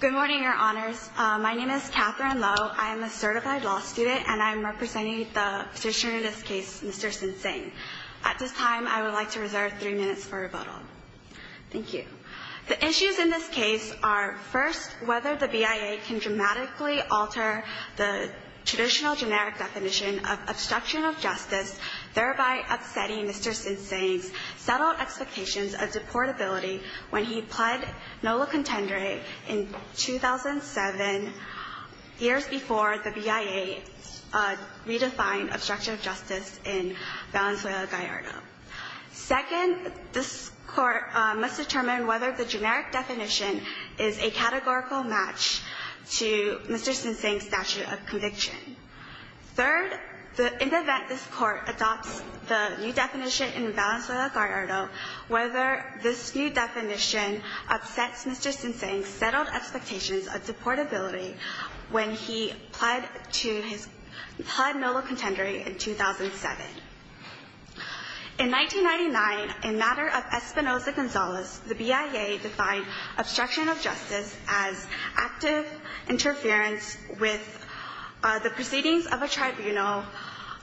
Good morning, Your Honors. My name is Katherine Lowe. I am a certified law student and I am representing the petitioner in this case, Mr. Sinsaeng. At this time, I would like to reserve three minutes for rebuttal. Thank you. The issues in this case are, first, whether the BIA can dramatically alter the traditional generic definition of obstruction of justice, thereby upsetting Mr. Sinsaeng's settled expectations of deportability when he pled nola contendere in 2007, years before the BIA redefined obstruction of justice in Valenzuela, Gallardo. Second, this Court must determine whether the generic definition is a categorical match to Mr. Sinsaeng's statute of conviction. Third, in the event this Court adopts the new definition in Valenzuela, Gallardo, whether this new definition upsets Mr. Sinsaeng's settled expectations of deportability when he pled nola contendere in 2007. In 1999, in matter of Espinoza-Gonzalez, the BIA defined obstruction of justice as active interference with the proceedings of a tribunal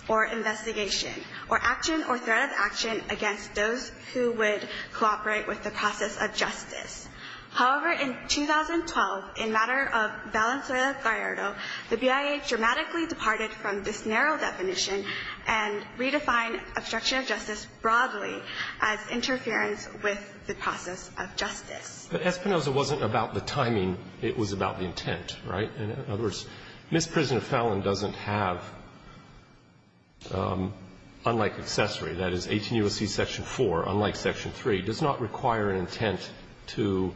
or investigation or action or threat of action against those who would cooperate with the process of justice. However, in 2012, in matter of Valenzuela-Gallardo, the BIA dramatically departed from this narrow definition and redefined obstruction of justice broadly as interference with the process of justice. But Espinoza wasn't about the timing. It was about the intent, right? In other words, Ms. Prisoner Fallon doesn't have, unlike accessory, that is 18 U.S.C. Section 4, unlike Section 3, does not require an intent to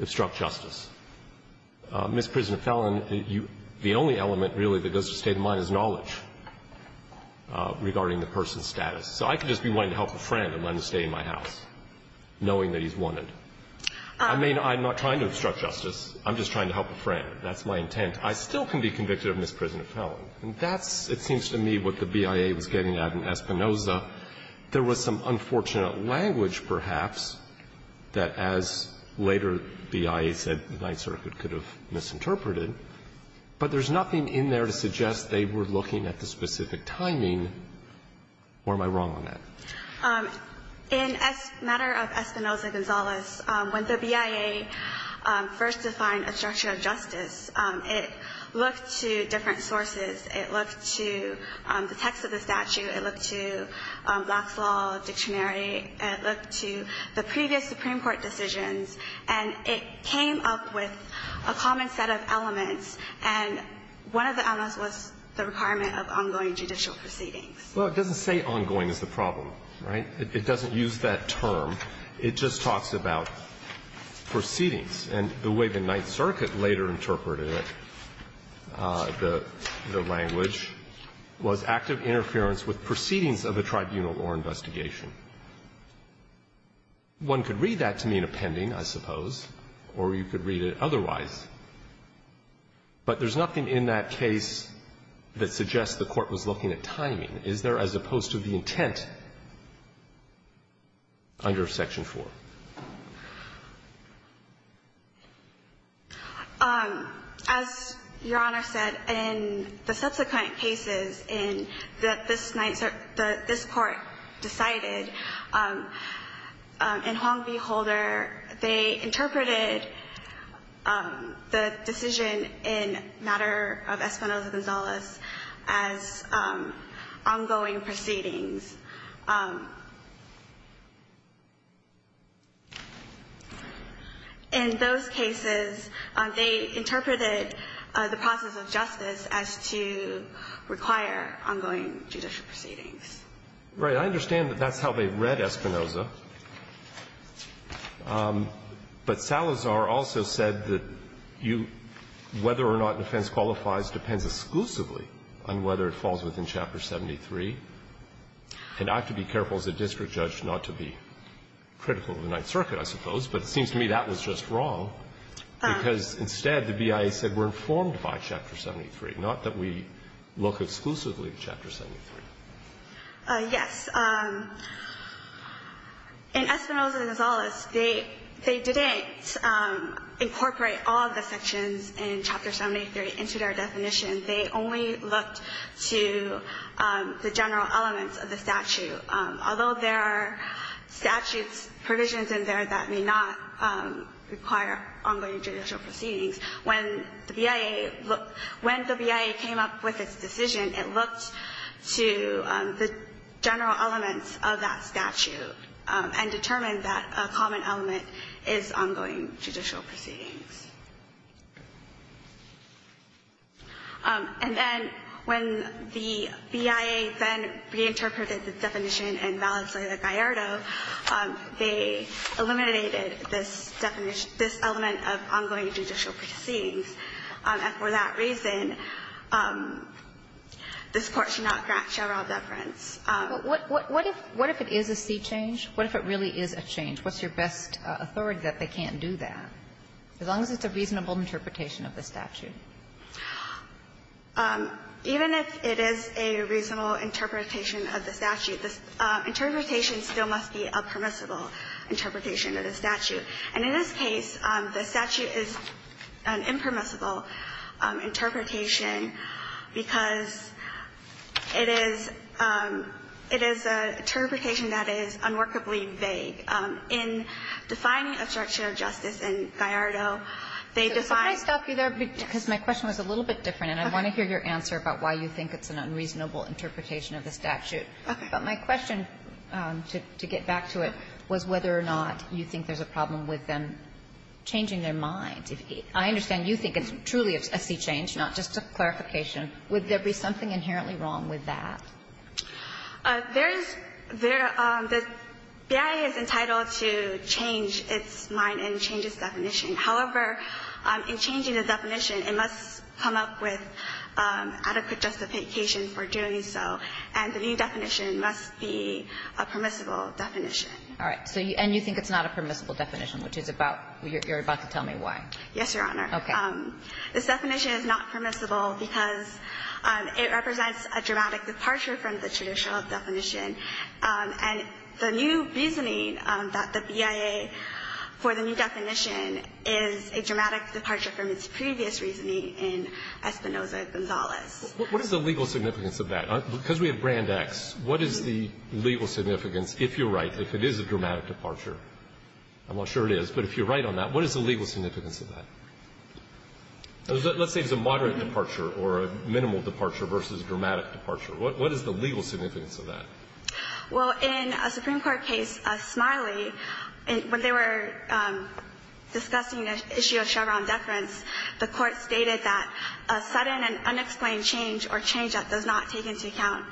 obstruct justice. Ms. Prisoner Fallon, the only element, really, that goes to the state of mind is knowledge regarding the person's status. So I could just be wanting to help a friend and let him stay in my house, knowing that he's wanted. I mean, I'm not trying to obstruct justice. I'm just trying to help a friend. That's my intent. I still can be convicted of Ms. Prisoner Fallon. And that's, it seems to me, what the BIA was getting at in Espinoza. There was some unfortunate language, perhaps, that as later BIA said the Ninth Circuit could have misinterpreted. But there's nothing in there to suggest they were looking at the specific timing. Or am I wrong on that? In matter of Espinoza-Gonzalez, when the BIA first defined obstruction of justice, it looked to different sources. It looked to the text of the statute. It looked to Black's Law Dictionary. It looked to the previous Supreme Court decisions. And it came up with a common set of elements. And one of the elements was the requirement of ongoing judicial proceedings. Well, it doesn't say ongoing is the problem, right? It doesn't use that term. It just talks about proceedings. And the way the Ninth Circuit later interpreted it, the language, was active interference with proceedings of the tribunal or investigation. One could read that to me in a pending, I suppose, or you could read it otherwise. But there's nothing in that case that suggests the Court was looking at timing. Is there, as opposed to the intent under Section 4? As Your Honor said, in the subsequent cases that this Court decided, in Huang v. Holder, they interpreted the decision in matter of Espinoza-Gonzalez as ongoing proceedings. In those cases, they interpreted the process of justice as to require ongoing judicial proceedings. Right. I understand that that's how they read Espinoza. But Salazar also said that you – whether or not defense qualifies depends exclusively on whether it falls within Chapter 73. And I have to be careful as a district judge not to be critical of the Ninth Circuit, I suppose. But it seems to me that was just wrong, because instead the BIA said we're informed by Chapter 73, not that we look exclusively at Chapter 73. Yes. In Espinoza-Gonzalez, they didn't incorporate all the sections in Chapter 73 into their definition. They only looked to the general elements of the statute. Although there are statutes, provisions in there that may not require ongoing judicial proceedings, when the BIA – when the BIA came up with its decision, it looked to the general elements of that statute and determined that a common element is ongoing judicial proceedings. And then when the BIA then reinterpreted the definition in Valenzuela-Gallardo, they eliminated this definition – this element of ongoing judicial proceedings. And for that reason, this Court should not draft General Deference. But what if – what if it is a C change? What if it really is a change? What's your best authority that they can't do that? As long as it's a reasonable interpretation of the statute. Even if it is a reasonable interpretation of the statute, the interpretation still must be a permissible interpretation of the statute. And in this case, the statute is an impermissible interpretation because it is – it is an interpretation that is unworkably vague. In defining obstruction of justice in Gallardo, they define – Kagan. Can I stop you there? Because my question was a little bit different. Okay. And I want to hear your answer about why you think it's an unreasonable interpretation of the statute. Okay. But my question, to get back to it, was whether or not you think there's a problem with them changing their minds. I understand you think it's truly a C change, not just a clarification. Would there be something inherently wrong with that? There is – there – the BIA is entitled to change its mind and change its definition. However, in changing the definition, it must come up with adequate justification for doing so, and the new definition must be a permissible definition. All right. So you – and you think it's not a permissible definition, which is about – you're about to tell me why. Yes, Your Honor. Okay. This definition is not permissible because it represents a dramatic departure from the traditional definition. And the new reasoning that the BIA, for the new definition, is a dramatic departure from its previous reasoning in Espinoza-Gonzalez. What is the legal significance of that? Because we have Brand X, what is the legal significance, if you're right, if it is a dramatic departure? I'm not sure it is, but if you're right on that, what is the legal significance of that? Let's say it's a moderate departure or a minimal departure versus dramatic departure. What is the legal significance of that? Well, in a Supreme Court case, Smiley, when they were discussing the issue of Chevron deference, the Court stated that a sudden and unexplained change or change that does not take into account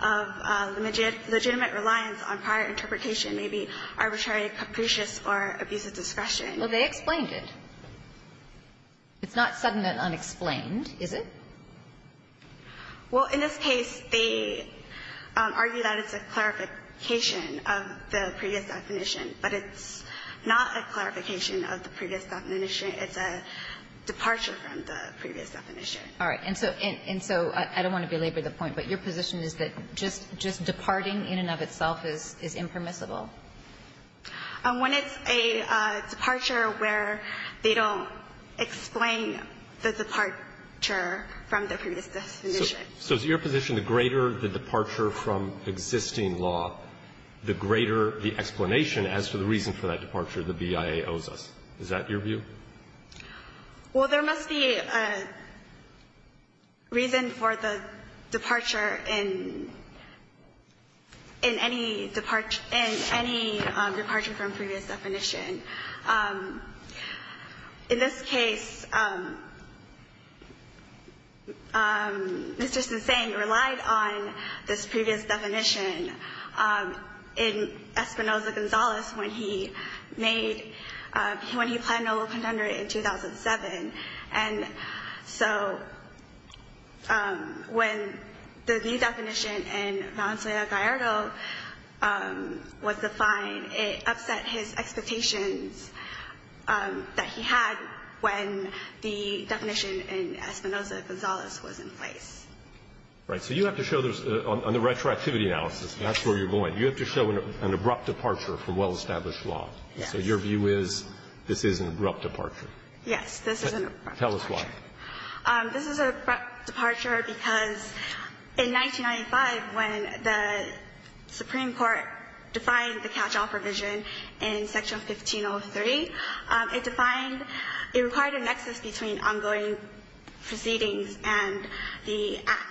the legitimate reliance on prior interpretation may be arbitrary, capricious, or abuse of discretion. Well, they explained it. It's not sudden and unexplained, is it? Well, in this case, they argue that it's a clarification of the previous definition. But it's not a clarification of the previous definition. It's a departure from the previous definition. All right. And so I don't want to belabor the point, but your position is that just departing in and of itself is impermissible? When it's a departure where they don't explain the departure from the previous definition. So is your position the greater the departure from existing law, the greater the explanation as to the reason for that departure the BIA owes us? Is that your view? Well, there must be a reason for the departure in any departure in any case. Any departure from previous definition. In this case, Mr. Senseng relied on this previous definition in Espinoza-Gonzalez when he made, when he planned a little contender in 2007. And so when the view definition in Valencia-Gallardo was defined, it upset his expectations that he had when the definition in Espinoza-Gonzalez was in place. Right. So you have to show those, on the retroactivity analysis, that's where you're going. You have to show an abrupt departure from well-established law. Yes. So your view is this is an abrupt departure? Yes, this is an abrupt departure. Tell us why. This is an abrupt departure because in 1995, when the Supreme Court defined the catch-all provision in Section 1503, it defined, it required a nexus between ongoing proceedings and the act.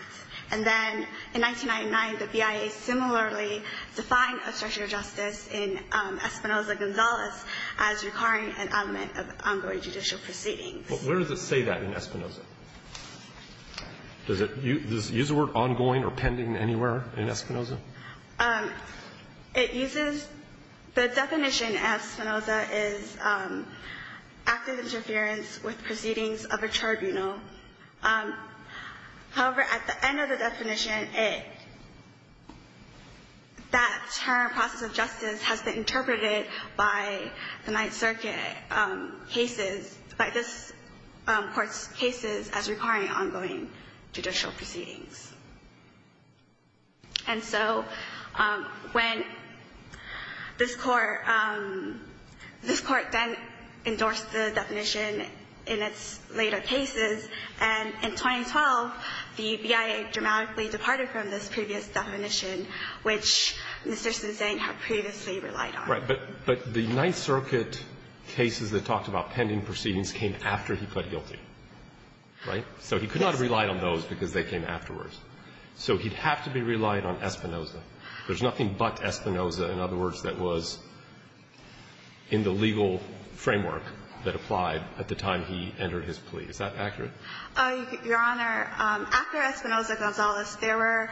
And then in 1999, the BIA similarly defined obstruction of justice in Espinoza-Gonzalez as requiring an element of ongoing judicial proceedings. Well, where does it say that in Espinoza? Does it use the word ongoing or pending anywhere in Espinoza? It uses, the definition in Espinoza is active interference with proceedings of a tribunal. However, at the end of the definition, it, that term process of justice has been interpreted by the Ninth Circuit cases, by this Court's cases, as requiring ongoing judicial proceedings. And so when this Court, this Court then endorsed the definition in its later cases, and in 2012, the BIA dramatically departed from this previous definition, which Mr. Senseng had previously relied on. Right. But the Ninth Circuit cases that talked about pending proceedings came after he pled guilty, right? So he could not have relied on those because they came afterwards. So he'd have to be relied on Espinoza. There's nothing but Espinoza, in other words, that was in the legal framework that applied at the time he entered his plea. Is that accurate? Your Honor, after Espinoza-Gonzalez, there were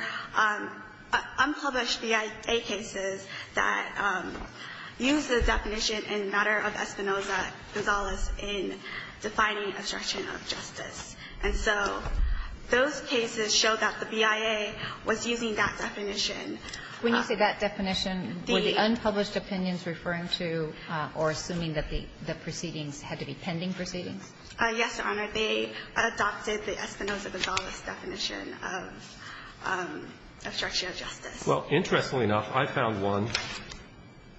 unpublished BIA cases that, that used the definition in matter of Espinoza-Gonzalez in defining obstruction of justice. And so those cases show that the BIA was using that definition. When you say that definition, were the unpublished opinions referring to or assuming that the proceedings had to be pending proceedings? Yes, Your Honor. They adopted the Espinoza-Gonzalez definition of obstruction of justice. Well, interestingly enough, I found one,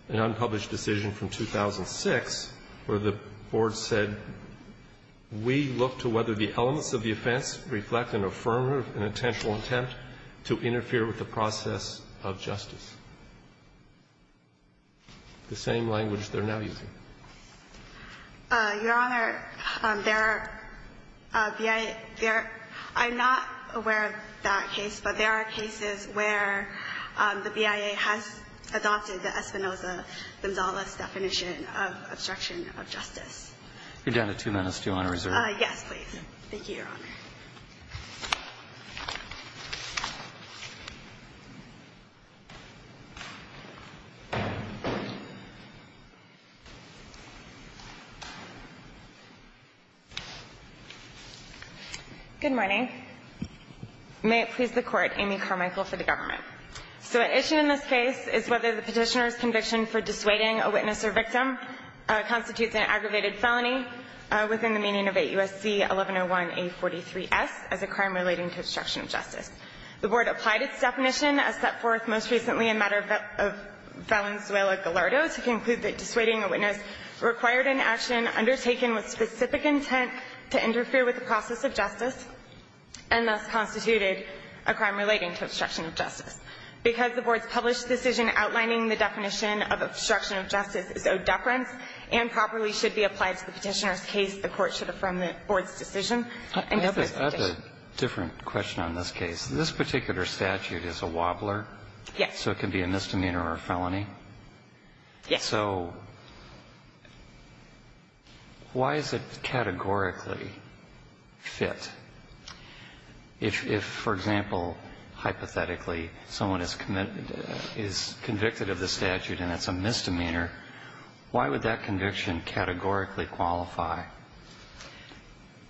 an unpublished decision from 2006, where the Board said, we look to whether the elements of the offense reflect an affirmative and intentional attempt to interfere with the process of justice. The same language they're now using. Your Honor, there are BIA – there are – I'm not aware of that case, but there are cases where the BIA has adopted the Espinoza-Gonzalez definition of obstruction of justice. You're down to two minutes. Do you want to reserve it? Yes, please. Thank you, Your Honor. Good morning. May it please the Court. Amy Carmichael for the government. So at issue in this case is whether the Petitioner's conviction for dissuading a witness or victim constitutes an aggravated felony within the meaning of 8 U.S.C. 1101A43-S as a crime relating to obstruction of justice. The Board applied its definition as set forth most recently in matter of Valenzuela Gallardo to conclude that dissuading a witness required an action undertaken with specific intent to interfere with the process of justice and thus constituted a crime relating to obstruction of justice. Because the Board's published decision outlining the definition of obstruction of justice is of deference and properly should be applied to the Petitioner's case, the Court should affirm the Board's decision. I have a different question on this case. This particular statute is a wobbler. Yes. So it can be a misdemeanor or a felony. Yes. So why is it categorically fit? If, for example, hypothetically someone is convicted of the statute and it's a misdemeanor, why would that conviction categorically qualify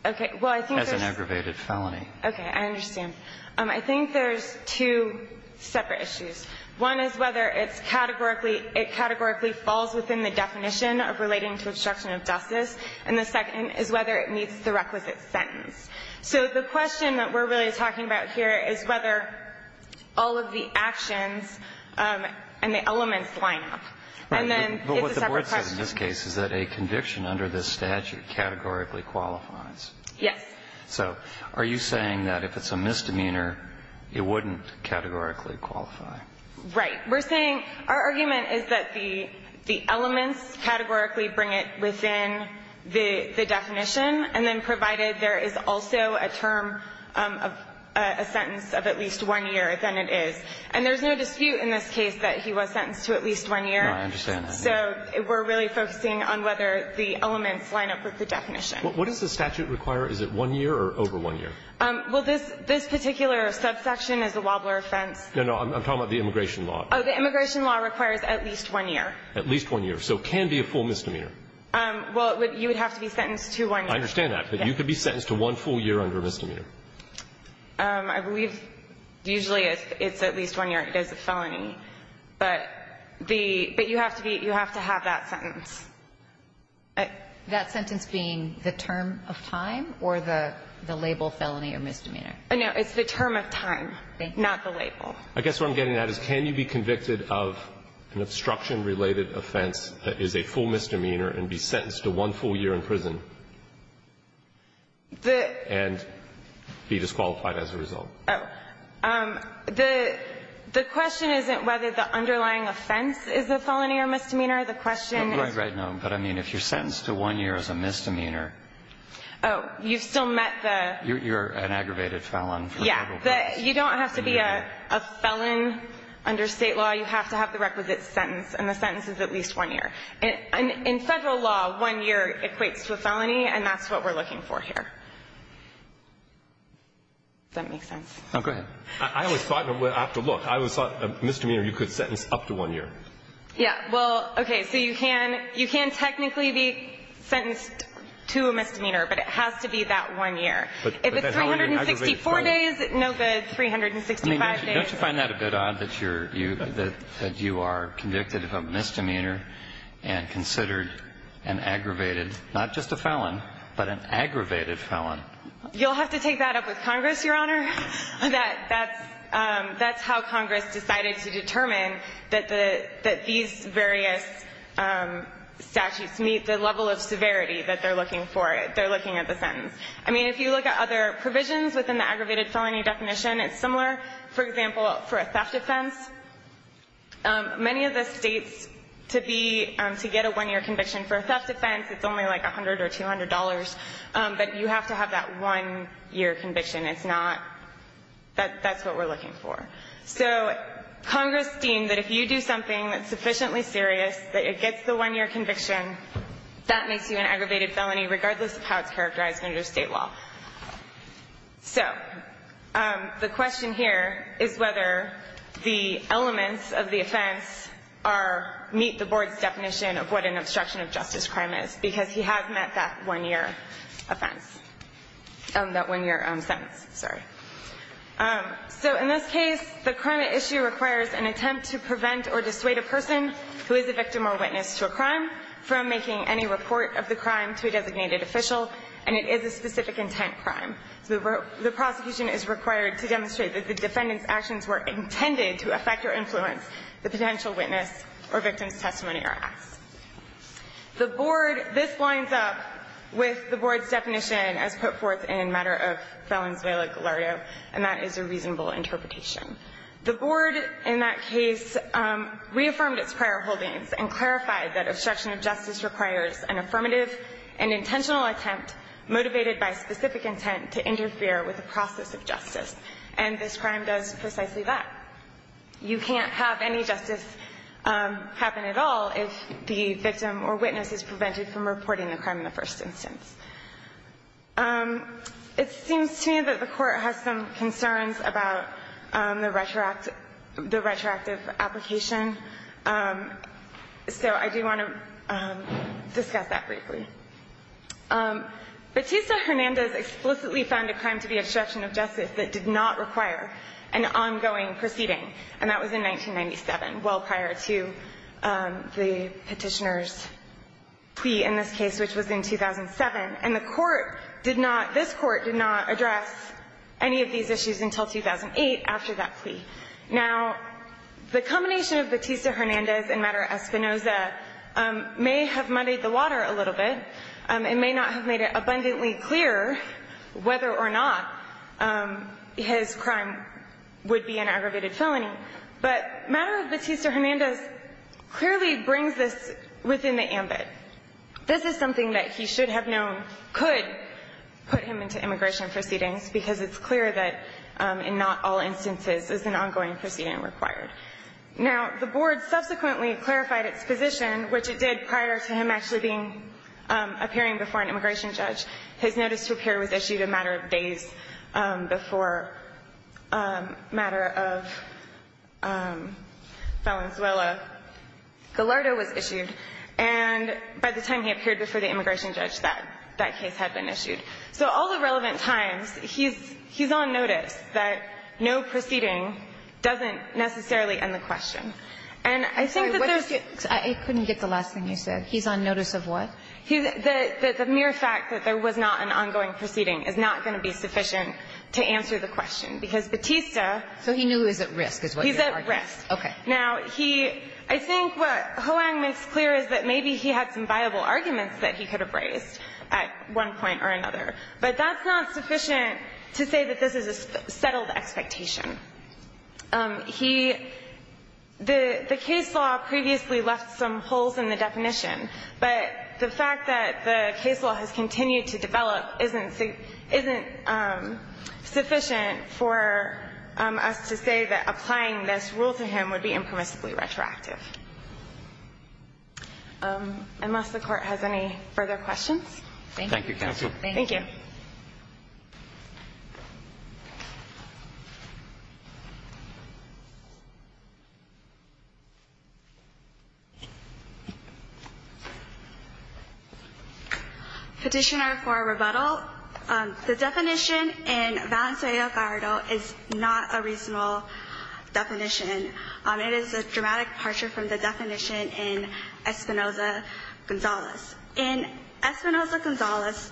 as an aggravated felony? Okay. I understand. I think there's two separate issues. One is whether it's categorically – it categorically falls within the definition of relating to obstruction of justice. And the second is whether it meets the requisite sentence. So the question that we're really talking about here is whether all of the actions and the elements line up. And then it's a separate question. Right. But what the Board said in this case is that a conviction under this statute categorically qualifies. Yes. So are you saying that if it's a misdemeanor, it wouldn't categorically qualify? Right. We're saying our argument is that the elements categorically bring it within the definition, and then provided there is also a term of a sentence of at least one year, then it is. And there's no dispute in this case that he was sentenced to at least one year. I understand that. So we're really focusing on whether the elements line up with the definition. What does the statute require? Is it one year or over one year? Well, this particular subsection is a wobbler offense. No, no. I'm talking about the immigration law. Oh, the immigration law requires at least one year. At least one year. So it can be a full misdemeanor. Well, you would have to be sentenced to one year. I understand that. But you could be sentenced to one full year under a misdemeanor. I believe usually it's at least one year. It is a felony. But the – but you have to be – you have to have that sentence. That sentence being the term of time or the label felony or misdemeanor? No. It's the term of time, not the label. I guess what I'm getting at is can you be convicted of an obstruction-related offense that is a full misdemeanor and be sentenced to one full year in prison and be disqualified as a result? Oh. The question isn't whether the underlying offense is a felony or misdemeanor. The question is – Right, right. No. But, I mean, if you're sentenced to one year as a misdemeanor – Oh. You've still met the – You're an aggravated felon. Yeah. You don't have to be a felon under state law. You have to have the requisite sentence, and the sentence is at least one year. In federal law, one year equates to a felony, and that's what we're looking for here. Does that make sense? Go ahead. I always thought – after a look, I always thought a misdemeanor you could sentence up to one year. Yeah. Well, okay, so you can technically be sentenced to a misdemeanor, but it has to be that one year. But that's how you're an aggravated felon. If it's 364 days, no good, 365 days. Don't you find that a bit odd that you are convicted of a misdemeanor and considered an aggravated – not just a felon, but an aggravated felon? You'll have to take that up with Congress, Your Honor. That's how Congress decided to determine that these various statutes meet the level of severity that they're looking for. They're looking at the sentence. I mean, if you look at other provisions within the aggravated felony definition, it's similar. For example, for a theft offense, many of the states, to get a one-year conviction for a theft offense, it's only like $100 or $200, but you have to have that one-year conviction. It's not – that's what we're looking for. So Congress deemed that if you do something that's sufficiently serious that it gets the one-year conviction, that makes you an aggravated felony regardless of how it's characterized under state law. So the question here is whether the elements of the offense meet the board's definition of what an obstruction of justice crime is because he has met that one-year offense – that one-year sentence. Sorry. So in this case, the crime at issue requires an attempt to prevent or dissuade a person who is a victim or witness to a crime from making any report of the crime to a designated official, and it is a specific intent crime. So the prosecution is required to demonstrate that the defendant's actions were intended to affect or influence the potential witness or victim's testimony or acts. The board – this lines up with the board's definition as put forth in a matter of felon's vela glario, and that is a reasonable interpretation. The board in that case reaffirmed its prior holdings and clarified that obstruction of justice requires an affirmative and intentional attempt motivated by specific intent to interfere with the process of justice, and this crime does precisely that. You can't have any justice happen at all if the victim or witness is prevented from reporting the crime in the first instance. It seems to me that the Court has some concerns about the retroactive application, so I do want to discuss that briefly. Batista-Hernandez explicitly found a crime to be obstruction of justice that did not require an ongoing proceeding, and that was in 1997, well prior to the Petitioner's plea in this case, which was in 2007. And the Court did not – this Court did not address any of these issues until 2008 after that plea. Now, the combination of Batista-Hernandez and matter Espinoza may have muddied the water a little bit and may not have made it abundantly clear whether or not his crime would be an aggravated felony, but matter of Batista-Hernandez clearly brings this within the ambit. This is something that he should have known could put him into immigration proceedings because it's clear that in not all instances is an ongoing proceeding required. Now, the Board subsequently clarified its position, which it did prior to him actually being – appearing before an immigration judge. His notice to appear was issued a matter of days before matter of Valenzuela-Gallardo was issued, and by the time he appeared before the immigration judge, that case had been issued. So all the relevant times, he's – he's on notice that no proceeding doesn't necessarily end the question. And I think that there's – I couldn't get the last thing you said. He's on notice of what? The mere fact that there was not an ongoing proceeding is not going to be sufficient to answer the question, because Batista – So he knew he was at risk is what you're arguing. He's at risk. Okay. Now, he – I think what Hoang makes clear is that maybe he had some viable arguments that he could have raised at one point or another. But that's not sufficient to say that this is a settled expectation. He – the case law previously left some holes in the definition, but the fact that the case law has continued to develop isn't – isn't sufficient for us to say that applying this rule to him would be impermissibly retroactive. Unless the Court has any further questions. Thank you, counsel. Thank you. Petitioner for rebuttal, the definition in Valencia y Algarro is not a reasonable definition. It is a dramatic departure from the definition in Espinoza-Gonzalez. In Espinoza-Gonzalez,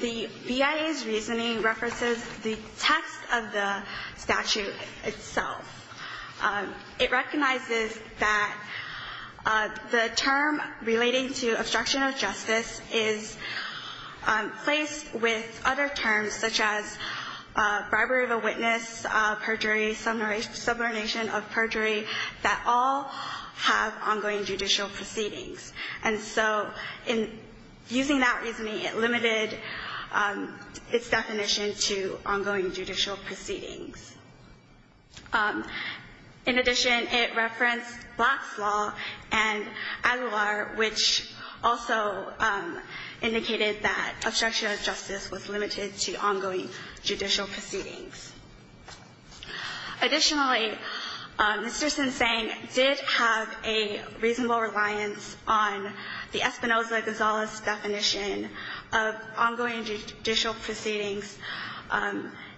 the BIA's reasoning references the text of the statute itself. It recognizes that the term relating to obstruction of justice is placed with other terms, such as bribery of a witness, perjury, subordination of perjury, that all have ongoing judicial proceedings. And so in using that reasoning, it limited its definition to ongoing judicial proceedings. In addition, it referenced Black's Law and Aguilar, which also indicated that Black's Law was limited to ongoing judicial proceedings. Additionally, Mr. Sinsang did have a reasonable reliance on the Espinoza-Gonzalez definition of ongoing judicial proceedings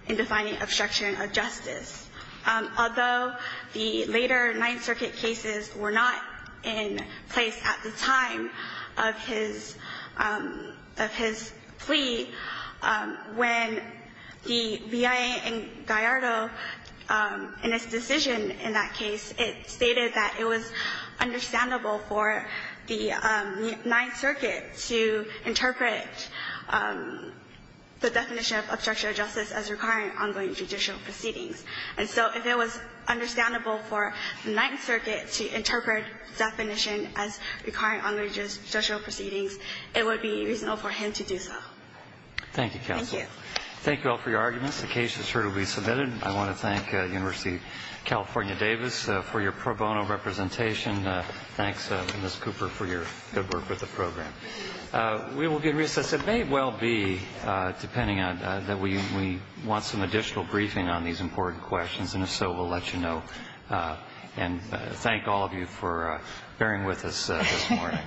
in defining obstruction of justice. Although the later Ninth Circuit cases were not in place at the time of his plea, when the BIA in Gallardo, in its decision in that case, it stated that it was understandable for the Ninth Circuit to interpret the definition of obstruction of justice as requiring ongoing judicial proceedings. And so if it was understandable for the Ninth Circuit to interpret the definition as requiring ongoing judicial proceedings, it would be reasonable for him to do so. Thank you, counsel. Thank you. Thank you all for your arguments. The case is here to be submitted. I want to thank University of California Davis for your pro bono representation. Thanks, Ms. Cooper, for your good work with the program. We will be in recess. It may well be, depending on that we want some additional briefing on these important questions, and if so, we'll let you know. And thank all of you for bearing with us this morning.